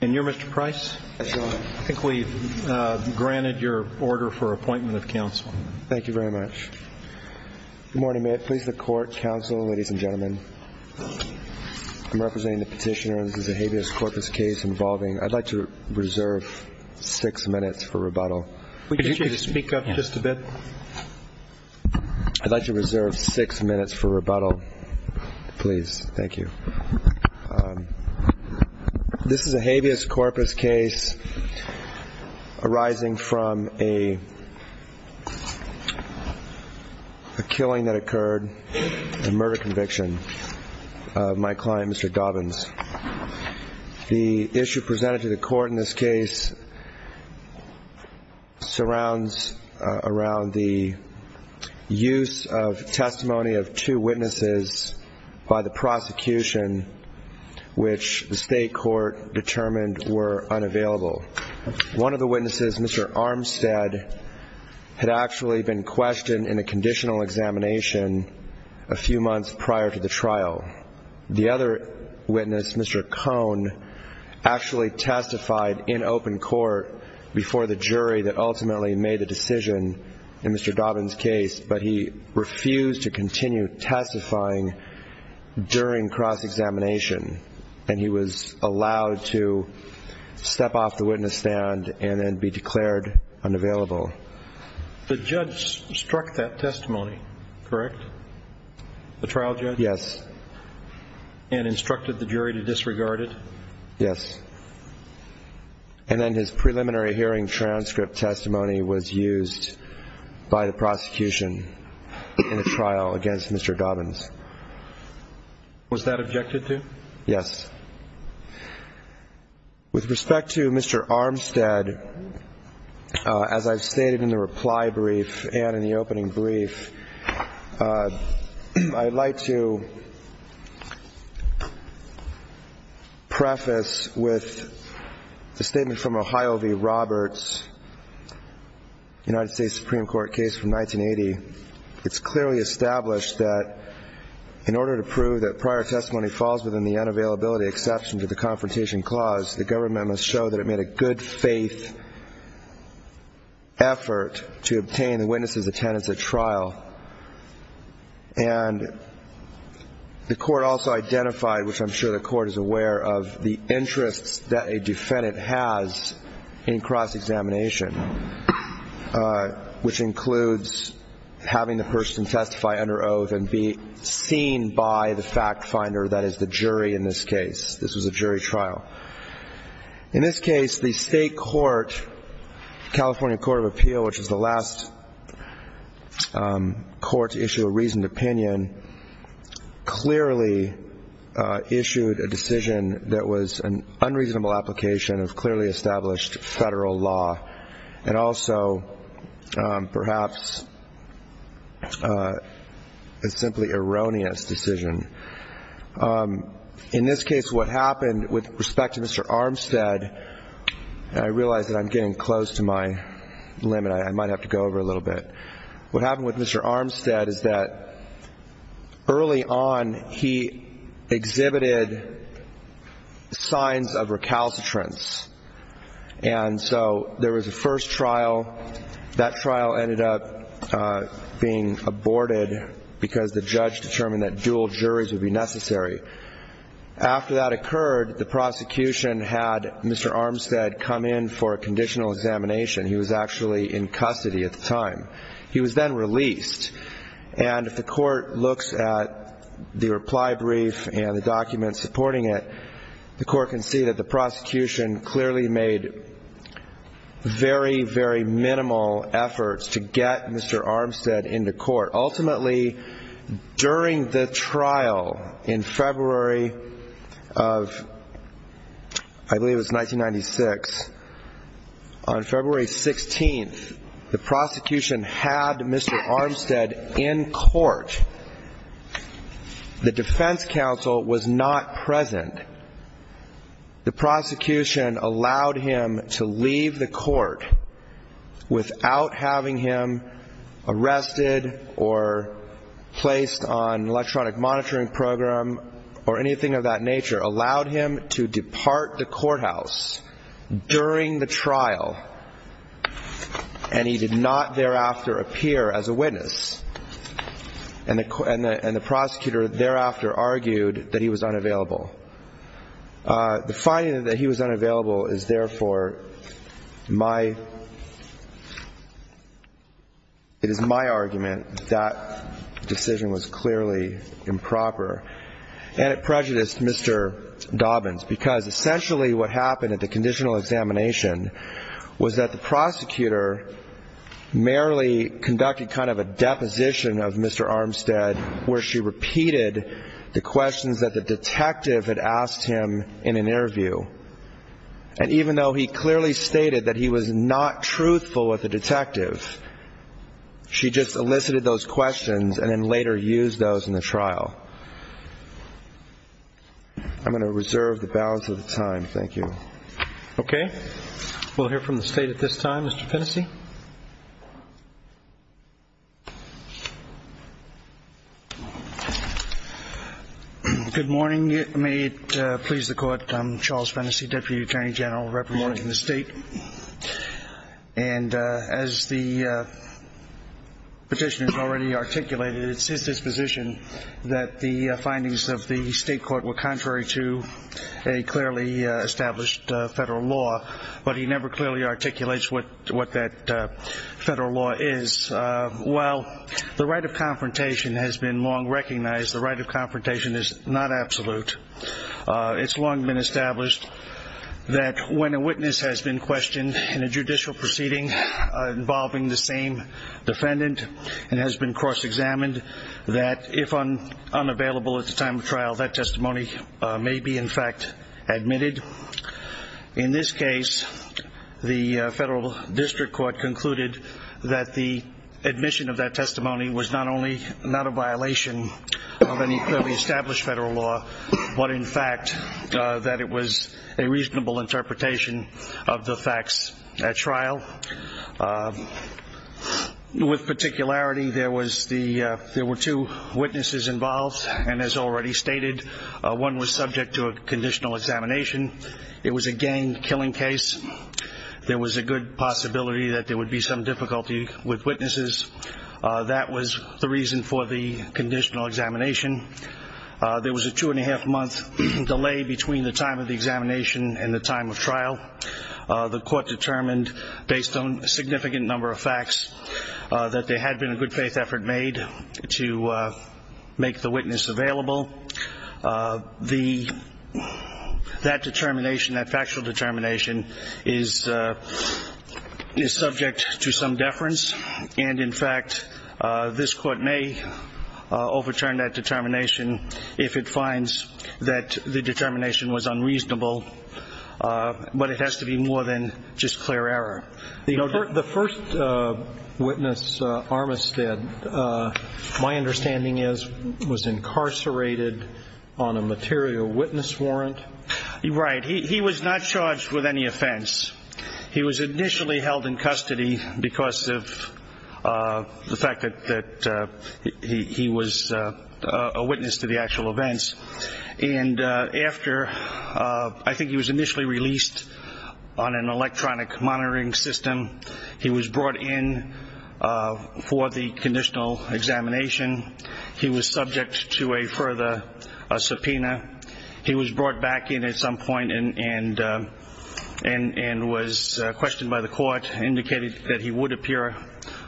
And you're Mr. Price? That's right. I think we've granted your order for appointment of counsel. Thank you very much. Good morning. May it please the Court, counsel, ladies and gentlemen. I'm representing the petitioner on the Zahavious Corpus case involving – I'd like to reserve six minutes for rebuttal. Could you speak up just a bit? I'd like to reserve six minutes for rebuttal, please. Thank you. This is a Zahavious Corpus case arising from a killing that occurred, a murder conviction, of my client, Mr. Dobynes. The issue presented to the Court in this case surrounds around the use of testimony of two witnesses by the prosecution, which the state court determined were unavailable. One of the witnesses, Mr. Armstead, had actually been questioned in a conditional examination a few months prior to the trial. The other witness, Mr. Cohn, actually testified in open court before the jury that ultimately made the decision in Mr. Dobynes' case, but he refused to continue testifying during cross-examination. And he was allowed to step off the witness stand and then be declared unavailable. The judge struck that testimony, correct? The trial judge? Yes. And instructed the jury to disregard it? Yes. And then his preliminary hearing transcript testimony was used by the prosecution in a trial against Mr. Dobynes. Was that objected to? Yes. With respect to Mr. Armstead, as I've stated in the reply brief and in the opening brief, I'd like to preface with the statement from Ohio v. Roberts, United States Supreme Court case from 1980. It's clearly established that in order to prove that prior testimony falls within the unavailability exception to the Confrontation Clause, the government must show that it made a good-faith effort to obtain the witness's attendance at trial. And the court also identified, which I'm sure the court is aware of, the interests that a defendant has in cross-examination, which includes having the person testify under oath and be seen by the fact finder, that is the jury in this case. This was a jury trial. In this case, the state court, California Court of Appeal, which is the last court to issue a reasoned opinion, clearly issued a decision that was an unreasonable application of clearly established federal law, and also perhaps a simply erroneous decision. In this case, what happened with respect to Mr. Armstead, and I realize that I'm getting close to my limit. I might have to go over a little bit. What happened with Mr. Armstead is that early on he exhibited signs of recalcitrance. And so there was a first trial. That trial ended up being aborted because the judge determined that dual juries would be necessary. After that occurred, the prosecution had Mr. Armstead come in for a conditional examination. He was actually in custody at the time. He was then released. And if the court looks at the reply brief and the documents supporting it, the court can see that the prosecution clearly made very, very minimal efforts to get Mr. Armstead into court. Ultimately, during the trial in February of, I believe it was 1996, on February 16th, the prosecution had Mr. Armstead in court. The defense counsel was not present. The prosecution allowed him to leave the court without having him arrested or placed on electronic monitoring program or anything of that nature, allowed him to depart the courthouse during the trial, and he did not thereafter appear as a witness. And the prosecutor thereafter argued that he was unavailable. The finding that he was unavailable is therefore my – it is my argument that decision was clearly improper. And it prejudiced Mr. Dobbins because essentially what happened at the conditional examination was that the prosecutor merely conducted kind of a deposition of Mr. Armstead where she repeated the questions that the detective had asked him in an interview. And even though he clearly stated that he was not truthful with the detective, she just elicited those questions and then later used those in the trial. I'm going to reserve the balance of the time. Thank you. Okay. We'll hear from the State at this time. Mr. Fennessy. Good morning. May it please the Court. I'm Charles Fennessy, Deputy Attorney General, representing the State. And as the petitioner has already articulated, it's his disposition that the findings of the State court were contrary to a clearly established federal law, but he never clearly articulates what that federal law is. While the right of confrontation has been long recognized, the right of confrontation is not absolute. It's long been established that when a witness has been questioned in a judicial proceeding involving the same defendant and has been cross-examined, that if unavailable at the time of trial, that testimony may be, in fact, admitted. In this case, the federal district court concluded that the admission of that testimony was not only not a violation of any clearly established federal law, but, in fact, that it was a reasonable interpretation of the facts at trial. With particularity, there were two witnesses involved, and as already stated, one was subject to a conditional examination. It was a gang killing case. There was a good possibility that there would be some difficulty with witnesses. That was the reason for the conditional examination. There was a two-and-a-half-month delay between the time of the examination and the time of trial. The court determined, based on a significant number of facts, that there had been a good-faith effort made to make the witness available. That determination, that factual determination, is subject to some deference, and, in fact, this court may overturn that determination if it finds that the determination was unreasonable. But it has to be more than just clear error. The first witness, Armistead, my understanding is, was incarcerated on a material witness warrant. Right. He was not charged with any offense. He was initially held in custody because of the fact that he was a witness to the actual events. And after, I think he was initially released on an electronic monitoring system, he was brought in for the conditional examination. He was subject to a further subpoena. He was brought back in at some point and was questioned by the court, indicated that he would appear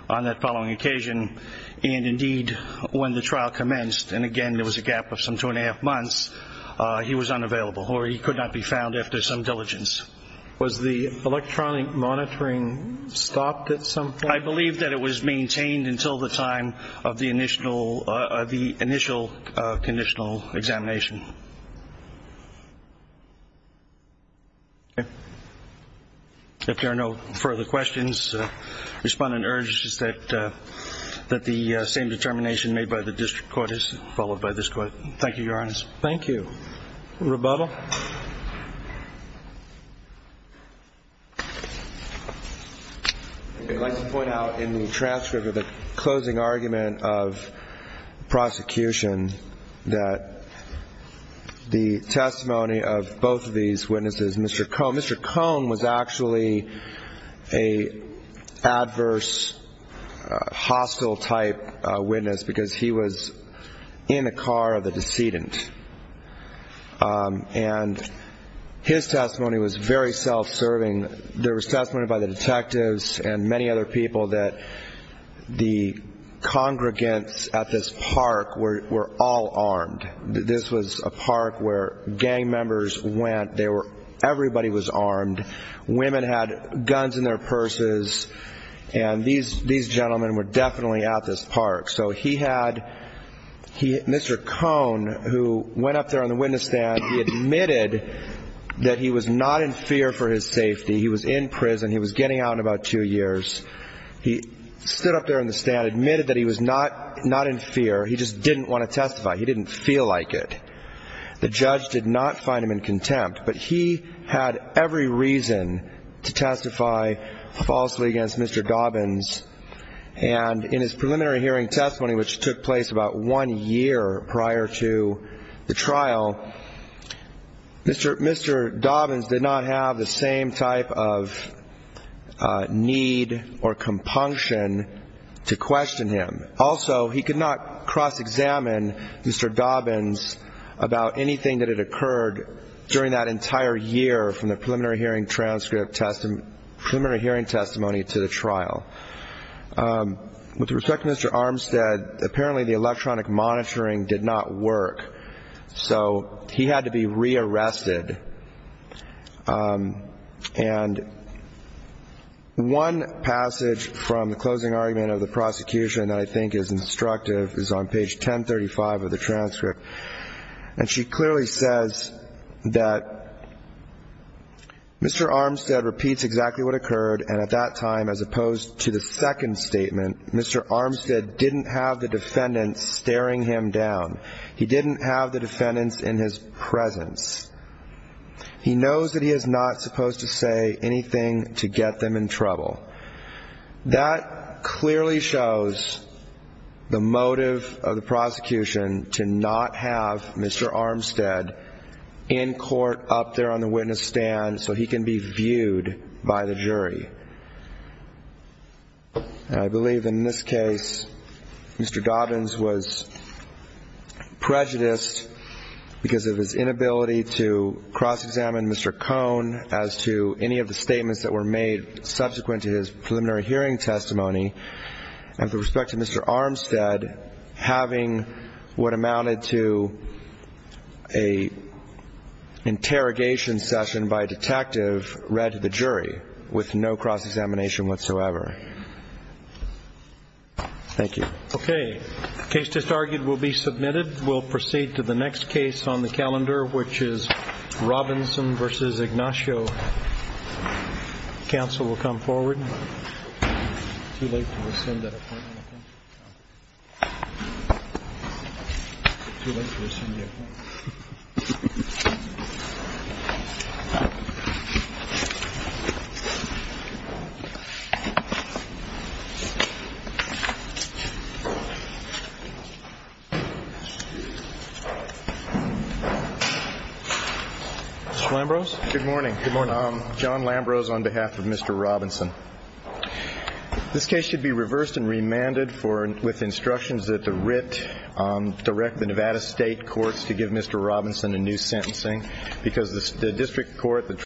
on that following occasion. And, indeed, when the trial commenced, and, again, there was a gap of some two-and-a-half months, he was unavailable or he could not be found after some diligence. Was the electronic monitoring stopped at some point? I believe that it was maintained until the time of the initial conditional examination. Okay. If there are no further questions, respondent urges that the same determination made by the district court is followed by this court. Thank you, Your Honor. Thank you. Rebuttal. I'd like to point out in the transcript of the closing argument of prosecution that the testimony of both of these witnesses, Mr. Cohn. Well, Mr. Cohn was actually an adverse, hostile-type witness because he was in the car of the decedent. And his testimony was very self-serving. There was testimony by the detectives and many other people that the congregants at this park were all armed. This was a park where gang members went. Everybody was armed. Women had guns in their purses. And these gentlemen were definitely at this park. So Mr. Cohn, who went up there on the witness stand, he admitted that he was not in fear for his safety. He was in prison. He was getting out in about two years. He stood up there on the stand, admitted that he was not in fear. He just didn't want to testify. He didn't feel like it. The judge did not find him in contempt. But he had every reason to testify falsely against Mr. Dobbins. And in his preliminary hearing testimony, which took place about one year prior to the trial, Mr. Dobbins did not have the same type of need or compunction to question him. Also, he could not cross-examine Mr. Dobbins about anything that had occurred during that entire year from the preliminary hearing testimony to the trial. With respect to Mr. Armstead, apparently the electronic monitoring did not work. So he had to be rearrested. And one passage from the closing argument of the prosecution that I think is instructive is on page 1035 of the transcript. And she clearly says that Mr. Armstead repeats exactly what occurred, and at that time, as opposed to the second statement, Mr. Armstead didn't have the defendant staring him down. He didn't have the defendant in his presence. He knows that he is not supposed to say anything to get them in trouble. That clearly shows the motive of the prosecution to not have Mr. Armstead in court, up there on the witness stand, so he can be viewed by the jury. I believe in this case Mr. Dobbins was prejudiced because of his inability to cross-examine Mr. Cohn as to any of the statements that were made subsequent to his preliminary hearing testimony. And with respect to Mr. Armstead, having what amounted to an interrogation session by a detective with no cross-examination whatsoever. Thank you. Okay. The case just argued will be submitted. We'll proceed to the next case on the calendar, which is Robinson v. Ignacio. Counsel will come forward. Mr. Lambrose? Good morning. Good morning. John Lambrose on behalf of Mr. Robinson. This case should be reversed and remanded with instructions that the writ direct the Nevada State Courts to give Mr. Robinson a new sentencing